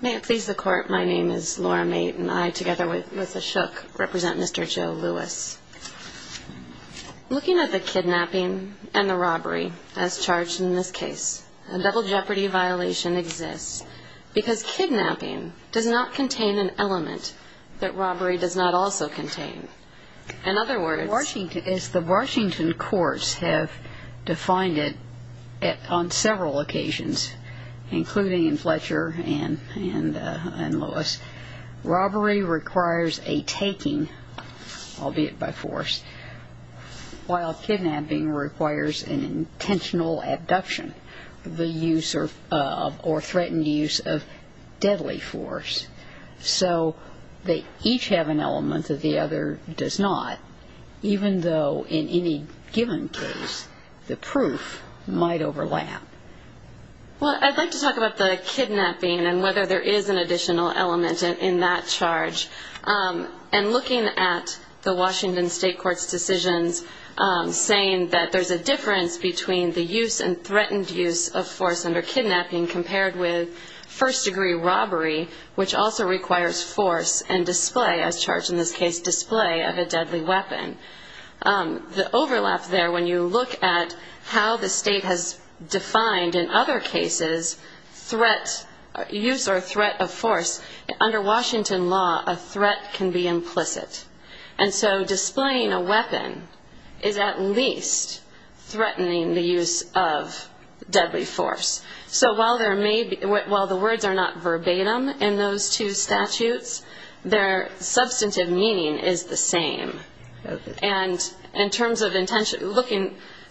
May it please the Court, my name is Laura Meight and I, together with Ms. Ashok, represent Mr. Joe Lewis. Looking at the kidnapping and the robbery as charged in this case, a double jeopardy violation exists because kidnapping does not contain an element that robbery does not also contain. In other words, the Washington courts have defined it on several occasions, including in Fletcher and Lewis, robbery requires a taking, albeit by force, while kidnapping requires an intentional abduction, the use of or threatened use of deadly force. So they each have an element that the other does not, even though in any given case the proof might overlap. Well, I'd like to talk about the kidnapping and whether there is an additional element in that charge. And looking at the Washington state court's decisions saying that there's a difference between the use and threatened use of force under kidnapping compared with first degree robbery, which also requires force and display, as charged in this case, display of a deadly weapon. The overlap there, when you look at how the state has defined in other cases threat, use or threat of force, under Washington law a threat can be implicit. And so displaying a weapon is at least threatening the use of deadly force. So while the words are not verbatim in those two statutes, their substantive meaning is the same. And in terms of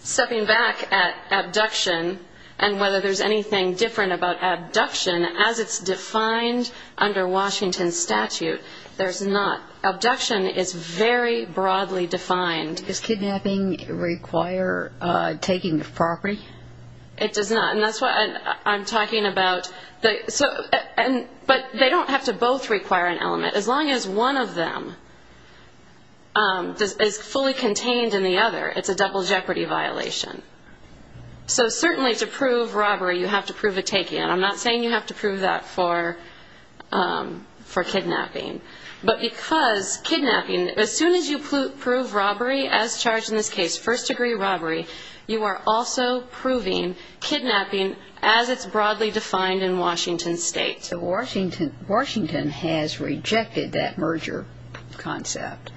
stepping back at abduction and whether there's anything different about abduction, as it's defined under Washington statute, there's not. Abduction is very broadly defined. Does kidnapping require taking the property? It does not. And that's what I'm talking about. But they don't have to both require an element. As long as one of them is fully contained in the other, it's a double jeopardy violation. So certainly to prove robbery, you have to prove a taking. And I'm not saying you have to prove that for kidnapping. But because kidnapping, as soon as you prove robbery, as charged in this case, first degree robbery, you are also proving kidnapping as it's broadly defined in Washington state. So Washington has rejected that merger concept.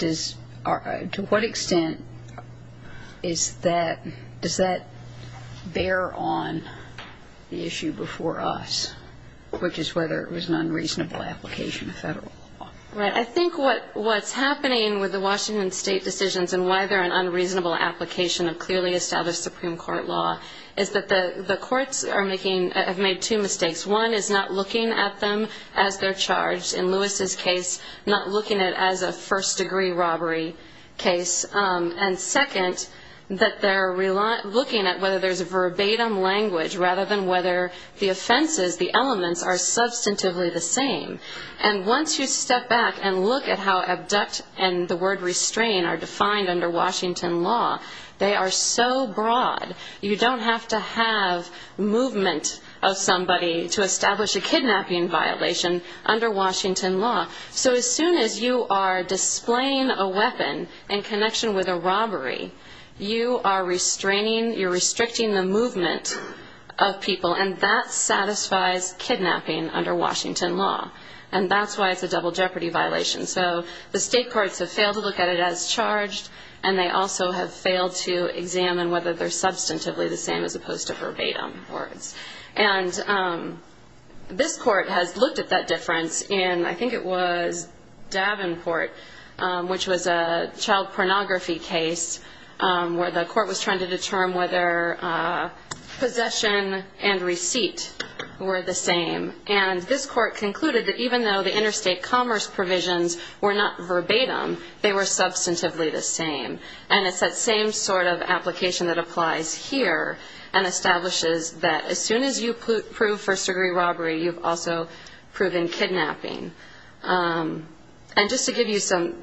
To what extent does that bear on the issue before us, which is whether it was an unreasonable application of federal law? Right. I think what's happening with the Washington state decisions and why they're an unreasonable application of clearly established Supreme Court law is that the courts have made two mistakes. One is not looking at them as they're charged. In Lewis's case, not looking at it as a first degree robbery case. And second, that they're looking at whether there's a verbatim language rather than whether the offenses, the elements, are substantively the same. And once you step back and look at how abduct and the word restrain are defined under Washington law, they are so broad, you don't have to have movement of somebody to establish a kidnapping violation under Washington law. So as soon as you are displaying a weapon in connection with a robbery, you are restraining, you're restricting the movement of people, and that satisfies kidnapping under Washington law. And that's why it's a double jeopardy violation. So the state courts have failed to look at it as charged, and they also have failed to examine whether they're substantively the same as opposed to verbatim words. And this court has looked at that difference in, I think it was, Davenport, which was a child pornography case where the court was trying to determine whether possession and receipt were the same. And this court concluded that even though the interstate commerce provisions were not verbatim, they were substantively the same. And it's that same sort of application that applies here and establishes that as soon as you prove first degree robbery, you've also proven kidnapping. And just to give you some,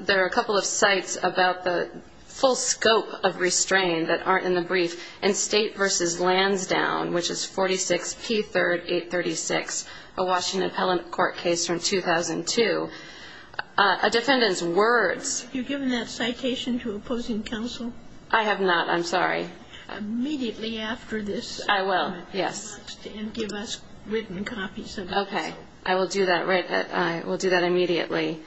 there are a couple of sites about the full scope of restraint that aren't in the brief. In State v. Lansdowne, which is 46P3rd 836, a Washington Appellant Court case from 2002, a defendant's words. Have you given that citation to opposing counsel? I have not. I'm sorry. Immediately after this. I will. Yes. And give us written copies of that. Okay. I will do that immediately.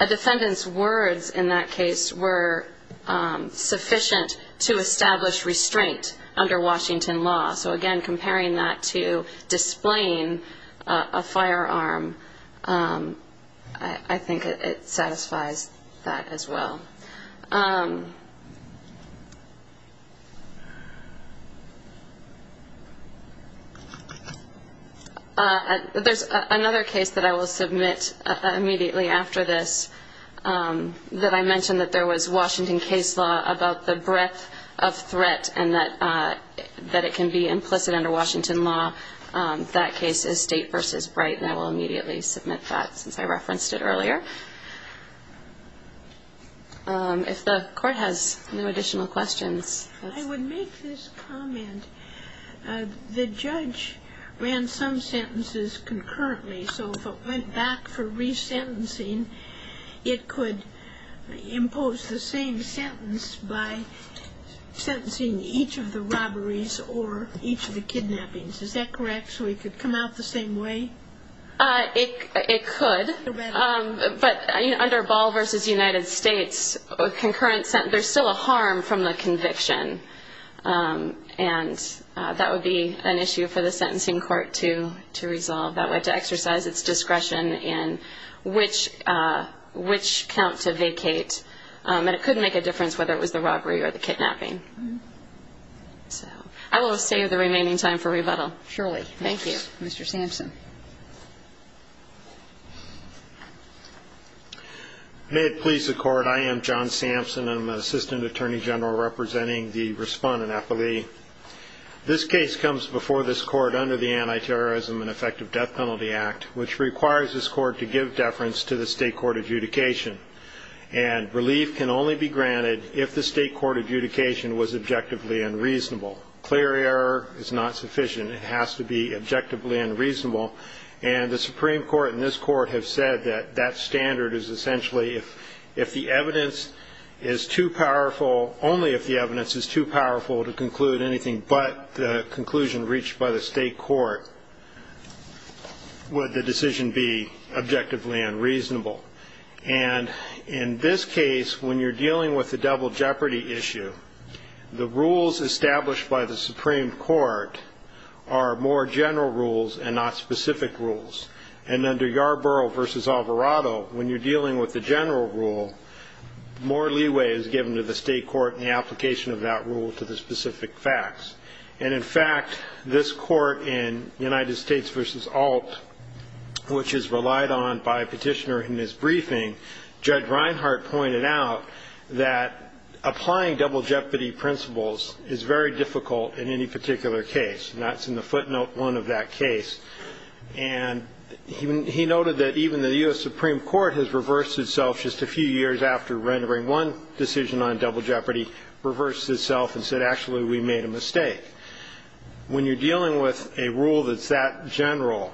A defendant's words in that case were sufficient to establish restraint under Washington law. So, again, comparing that to displaying a firearm, I think it satisfies that as well. There's another case that I will submit immediately after this that I mentioned, that there was Washington case law about the breadth of threat and that it can be implicit under Washington law. That case is State v. Bright, and I will immediately submit that since I referenced it earlier. If the Court has no additional questions. I would make this comment. The judge ran some sentences concurrently, so if it went back for resentencing, it could impose the same sentence by sentencing each of the robberies or each of the kidnappings. Is that correct? So it could come out the same way? It could. But under Ball v. United States, there's still a harm from the conviction, and that would be an issue for the sentencing court to resolve. That would exercise its discretion in which count to vacate, and it could make a difference whether it was the robbery or the kidnapping. I will save the remaining time for rebuttal. Surely. Thank you. Mr. Sampson. May it please the Court. I am John Sampson. I'm an assistant attorney general representing the respondent appellee. This case comes before this Court under the Anti-Terrorism and Effective Death Penalty Act, which requires this Court to give deference to the State court adjudication. And relief can only be granted if the State court adjudication was objectively unreasonable. Clear error is not sufficient. It has to be objectively unreasonable. And the Supreme Court and this Court have said that that standard is essentially if the evidence is too powerful, only if the evidence is too powerful to conclude anything but the conclusion reached by the State court would the decision be objectively unreasonable. And in this case, when you're dealing with the double jeopardy issue, the rules established by the Supreme Court are more general rules and not specific rules. And under Yarborough v. Alvarado, when you're dealing with the general rule, more leeway is given to the State court in the application of that rule to the specific facts. And, in fact, this Court in United States v. Alt, which is relied on by a petitioner in his briefing, Judge Reinhart pointed out that applying double jeopardy principles is very difficult in any particular case. And that's in the footnote one of that case. And he noted that even the U.S. Supreme Court has reversed itself just a few years after rendering one decision on double jeopardy, reversed itself and said, actually, we made a mistake. When you're dealing with a rule that's that general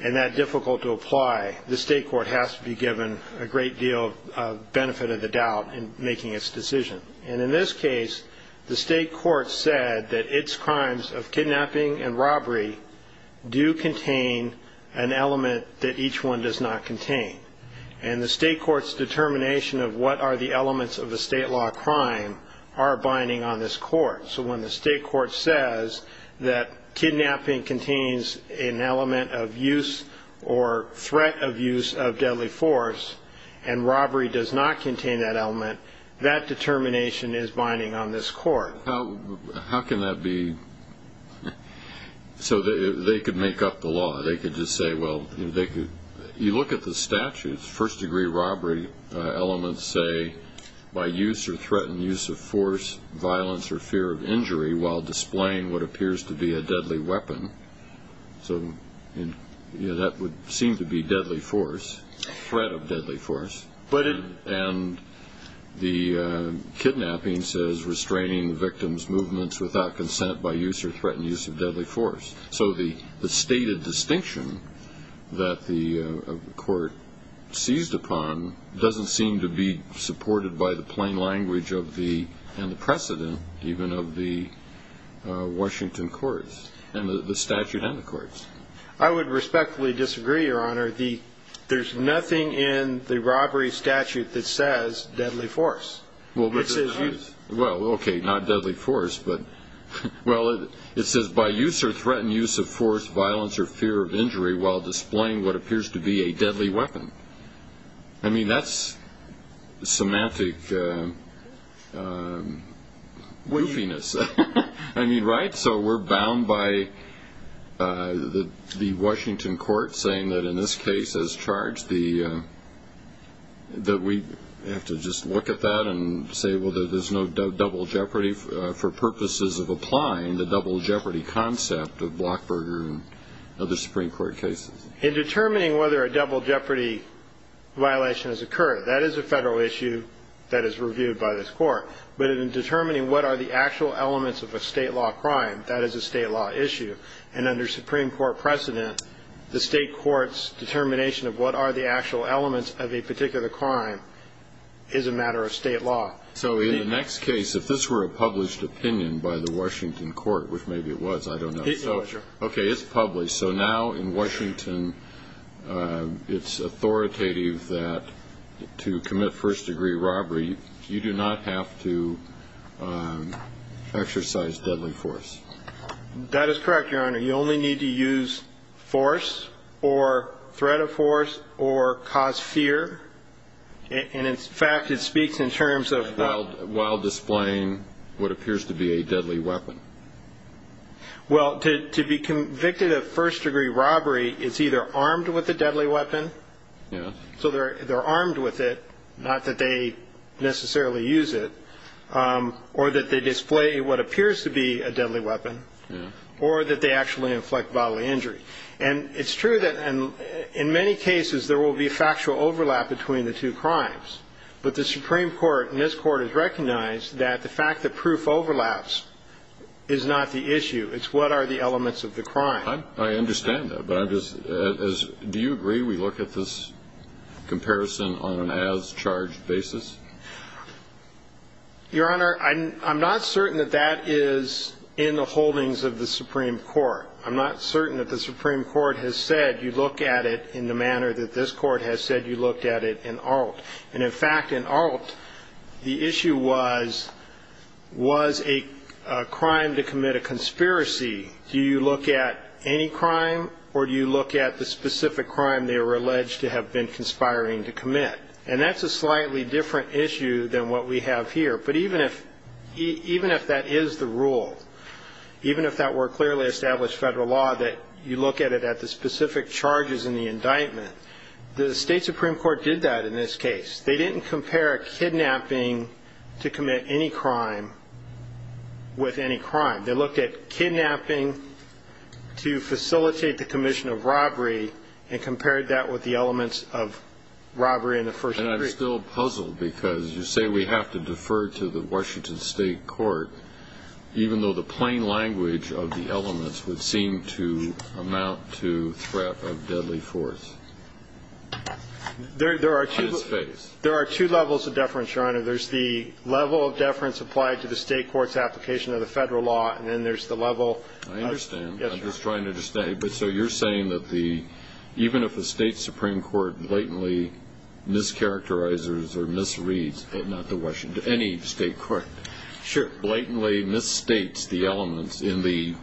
and that difficult to apply, the State court has to be given a great deal of benefit of the doubt in making its decision. And in this case, the State court said that its crimes of kidnapping and robbery do contain an element that each one does not contain. And the State court's determination of what are the elements of a state law crime are binding on this court. So when the State court says that kidnapping contains an element of use or threat of use of deadly force and robbery does not contain that element, that determination is binding on this court. How can that be? So they could make up the law. They could just say, well, they could. You look at the statutes. First-degree robbery elements say by use or threatened use of force, violence or fear of injury while displaying what appears to be a deadly weapon. So that would seem to be deadly force, threat of deadly force. And the kidnapping says restraining the victim's movements without consent by use or threatened use of deadly force. So the stated distinction that the court seized upon doesn't seem to be supported by the plain language and the precedent even of the Washington courts and the statute and the courts. I would respectfully disagree, Your Honor. There's nothing in the robbery statute that says deadly force. Well, okay, not deadly force. Well, it says by use or threatened use of force, violence or fear of injury while displaying what appears to be a deadly weapon. I mean, that's semantic goofiness. I mean, right? So we're bound by the Washington court saying that in this case as charged that we have to just look at that and say, well, there's no double jeopardy for purposes of applying the double jeopardy concept of Blockberger and other Supreme Court cases. In determining whether a double jeopardy violation has occurred, that is a federal issue that is reviewed by this court. But in determining what are the actual elements of a state law crime, that is a state law issue. And under Supreme Court precedent, the state court's determination of what are the actual elements of a particular crime is a matter of state law. So in the next case, if this were a published opinion by the Washington court, which maybe it was, I don't know. It was, Your Honor. Okay, it's published. So now in Washington, it's authoritative that to commit first-degree robbery, you do not have to exercise deadly force. That is correct, Your Honor. You only need to use force or threat of force or cause fear. And, in fact, it speaks in terms of what? While displaying what appears to be a deadly weapon. Well, to be convicted of first-degree robbery is either armed with a deadly weapon, so they're armed with it, not that they necessarily use it, or that they display what appears to be a deadly weapon, or that they actually inflict bodily injury. And it's true that in many cases there will be factual overlap between the two crimes. But the Supreme Court in this court has recognized that the fact that proof overlaps is not the issue. It's what are the elements of the crime. I understand that. But do you agree we look at this comparison on an as-charged basis? Your Honor, I'm not certain that that is in the holdings of the Supreme Court. I'm not certain that the Supreme Court has said you look at it in the manner that this court has said you looked at it in Alt. And, in fact, in Alt, the issue was, was a crime to commit a conspiracy. Do you look at any crime, or do you look at the specific crime they were alleged to have been conspiring to commit? And that's a slightly different issue than what we have here. But even if that is the rule, even if that were clearly established federal law, that you look at it at the specific charges in the indictment, the State Supreme Court did that in this case. They didn't compare kidnapping to commit any crime with any crime. They looked at kidnapping to facilitate the commission of robbery and compared that with the elements of robbery in the first degree. And I'm still puzzled because you say we have to defer to the Washington State Court, even though the plain language of the elements would seem to amount to threat of deadly force. There are two levels of deference, Your Honor. There's the level of deference applied to the state court's application of the federal law, and then there's the level of- I understand. I'm just trying to understand. Okay. So you're saying that even if the State Supreme Court blatantly mischaracterizes or misreads- not the Washington, any state court- Sure. blatantly misstates the elements in the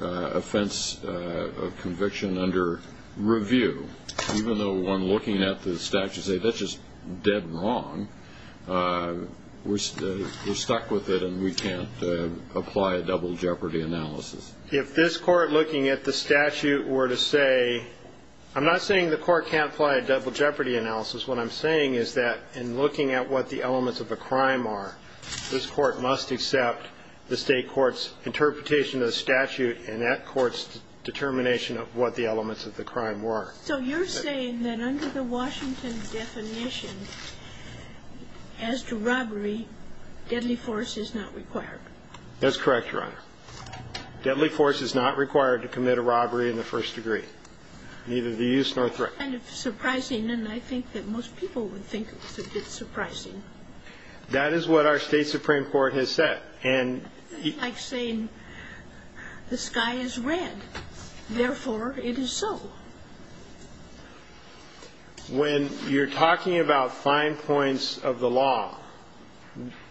offense of conviction under review, even though when looking at the statute, they say that's just dead wrong, we're stuck with it and we can't apply a double jeopardy analysis. If this court, looking at the statute, were to say- I'm not saying the court can't apply a double jeopardy analysis. What I'm saying is that in looking at what the elements of the crime are, this court must accept the state court's interpretation of the statute and that court's determination of what the elements of the crime were. So you're saying that under the Washington definition, as to robbery, deadly force is not required. That's correct, Your Honor. Deadly force is not required to commit a robbery in the first degree, neither the use nor threat. It's kind of surprising, and I think that most people would think it's surprising. That is what our State Supreme Court has said. It's like saying the sky is red, therefore it is so. When you're talking about fine points of the law,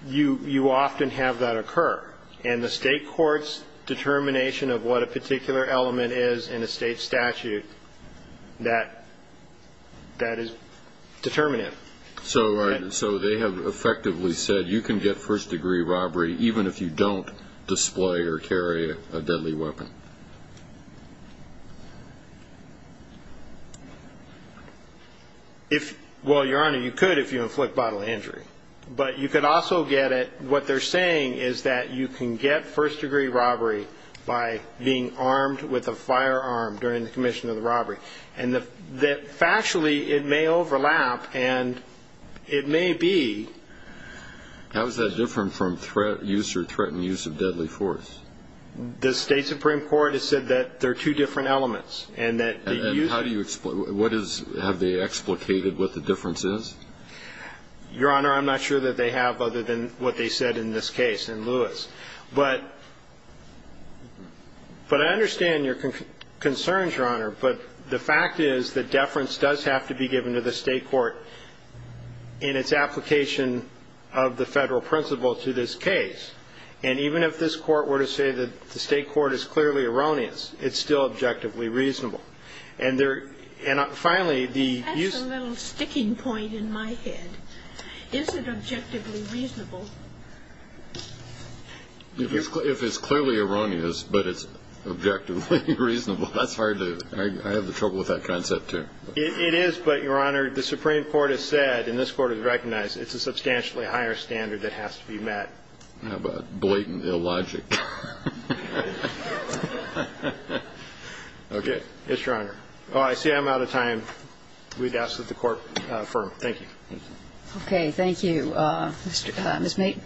you often have that occur, and the state court's determination of what a particular element is in a state statute, that is determinative. So they have effectively said you can get first-degree robbery even if you don't display or carry a deadly weapon. Well, Your Honor, you could if you inflict bodily injury, but you could also get it- you can get first-degree robbery by being armed with a firearm during the commission of the robbery. And factually, it may overlap, and it may be- How is that different from threat use or threatened use of deadly force? The State Supreme Court has said that there are two different elements, and that the use- And how do you- have they explicated what the difference is? Your Honor, I'm not sure that they have other than what they said in this case in Lewis. But I understand your concerns, Your Honor. But the fact is that deference does have to be given to the state court in its application of the Federal principle to this case. And even if this Court were to say that the state court is clearly erroneous, it's still objectively reasonable. And finally, the- There's a little sticking point in my head. Is it objectively reasonable? If it's clearly erroneous, but it's objectively reasonable, that's hard to- I have trouble with that concept, too. It is, but, Your Honor, the Supreme Court has said, and this Court has recognized, it's a substantially higher standard that has to be met. How about blatant illogic? Okay. Yes, Your Honor. Oh, I see I'm out of time. We'd ask that the Court affirm. Thank you. Okay. Thank you. Ms. Mait.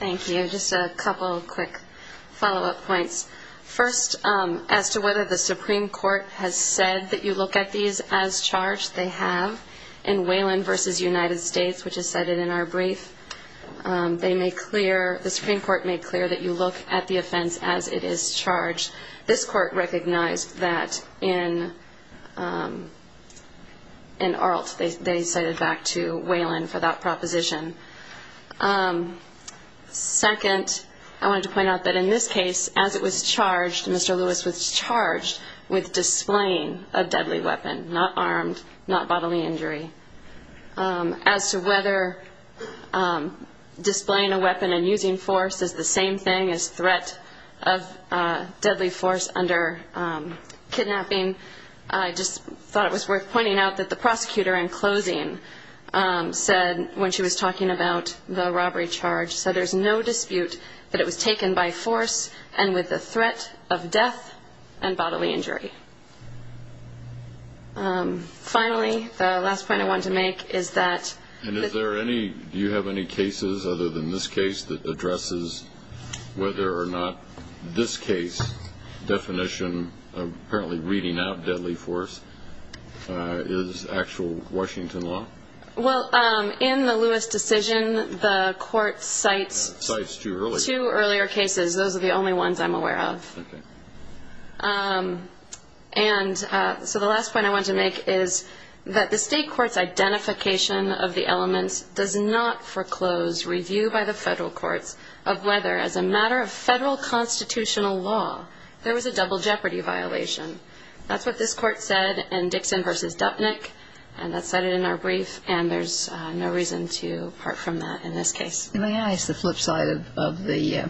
Thank you. Just a couple quick follow-up points. First, as to whether the Supreme Court has said that you look at these as charged, they have. In Whelan v. United States, which is cited in our brief, they make clear, the Supreme Court made clear that you look at the offense as it is charged. This Court recognized that in Arlt. They cited back to Whelan for that proposition. Second, I wanted to point out that in this case, as it was charged, Mr. Lewis was charged with displaying a deadly weapon, not armed, not bodily injury. As to whether displaying a weapon and using force is the same thing as threat of deadly force under kidnapping, I just thought it was worth pointing out that the prosecutor in closing said, when she was talking about the robbery charge, said there's no dispute that it was taken by force and with the threat of death and bodily injury. Finally, the last point I wanted to make is that the ---- And is there any, do you have any cases other than this case that addresses whether or not this case definition, apparently reading out deadly force, is actual Washington law? Well, in the Lewis decision, the Court cites two earlier cases. Those are the only ones I'm aware of. And so the last point I want to make is that the State court's identification of the elements does not foreclose review by the Federal courts of whether, as a matter of Federal constitutional law, there was a double jeopardy violation. That's what this Court said in Dixon v. Dupnick, and that's cited in our brief, and there's no reason to part from that in this case. May I ask the flip side of the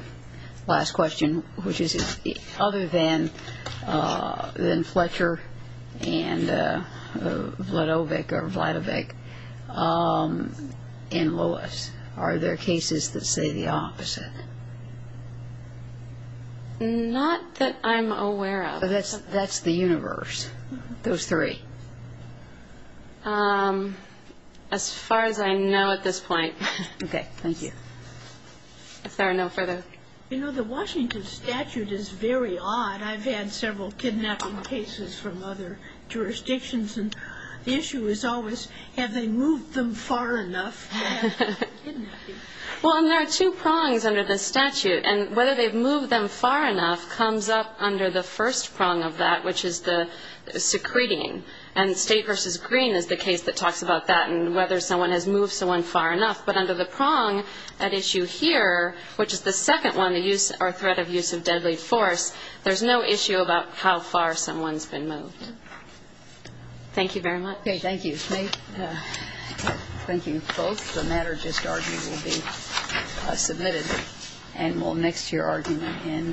last question, which is other than Fletcher and Vladovic or Vladovic and Lewis, are there cases that say the opposite? Not that I'm aware of. That's the universe, those three. As far as I know at this point. Okay. Thank you. Is there no further? You know, the Washington statute is very odd. I've had several kidnapping cases from other jurisdictions, and the issue is always have they moved them far enough? Well, and there are two prongs under the statute, and whether they've moved them far enough comes up under the first prong of that, which is the secreting. And State v. Green is the case that talks about that and whether someone has moved someone far enough. But under the prong at issue here, which is the second one, the threat of use of deadly force, there's no issue about how far someone's been moved. Thank you very much. Okay. Thank you. Thank you both. The matter just argued will be submitted and will mix to your argument in Mendoza.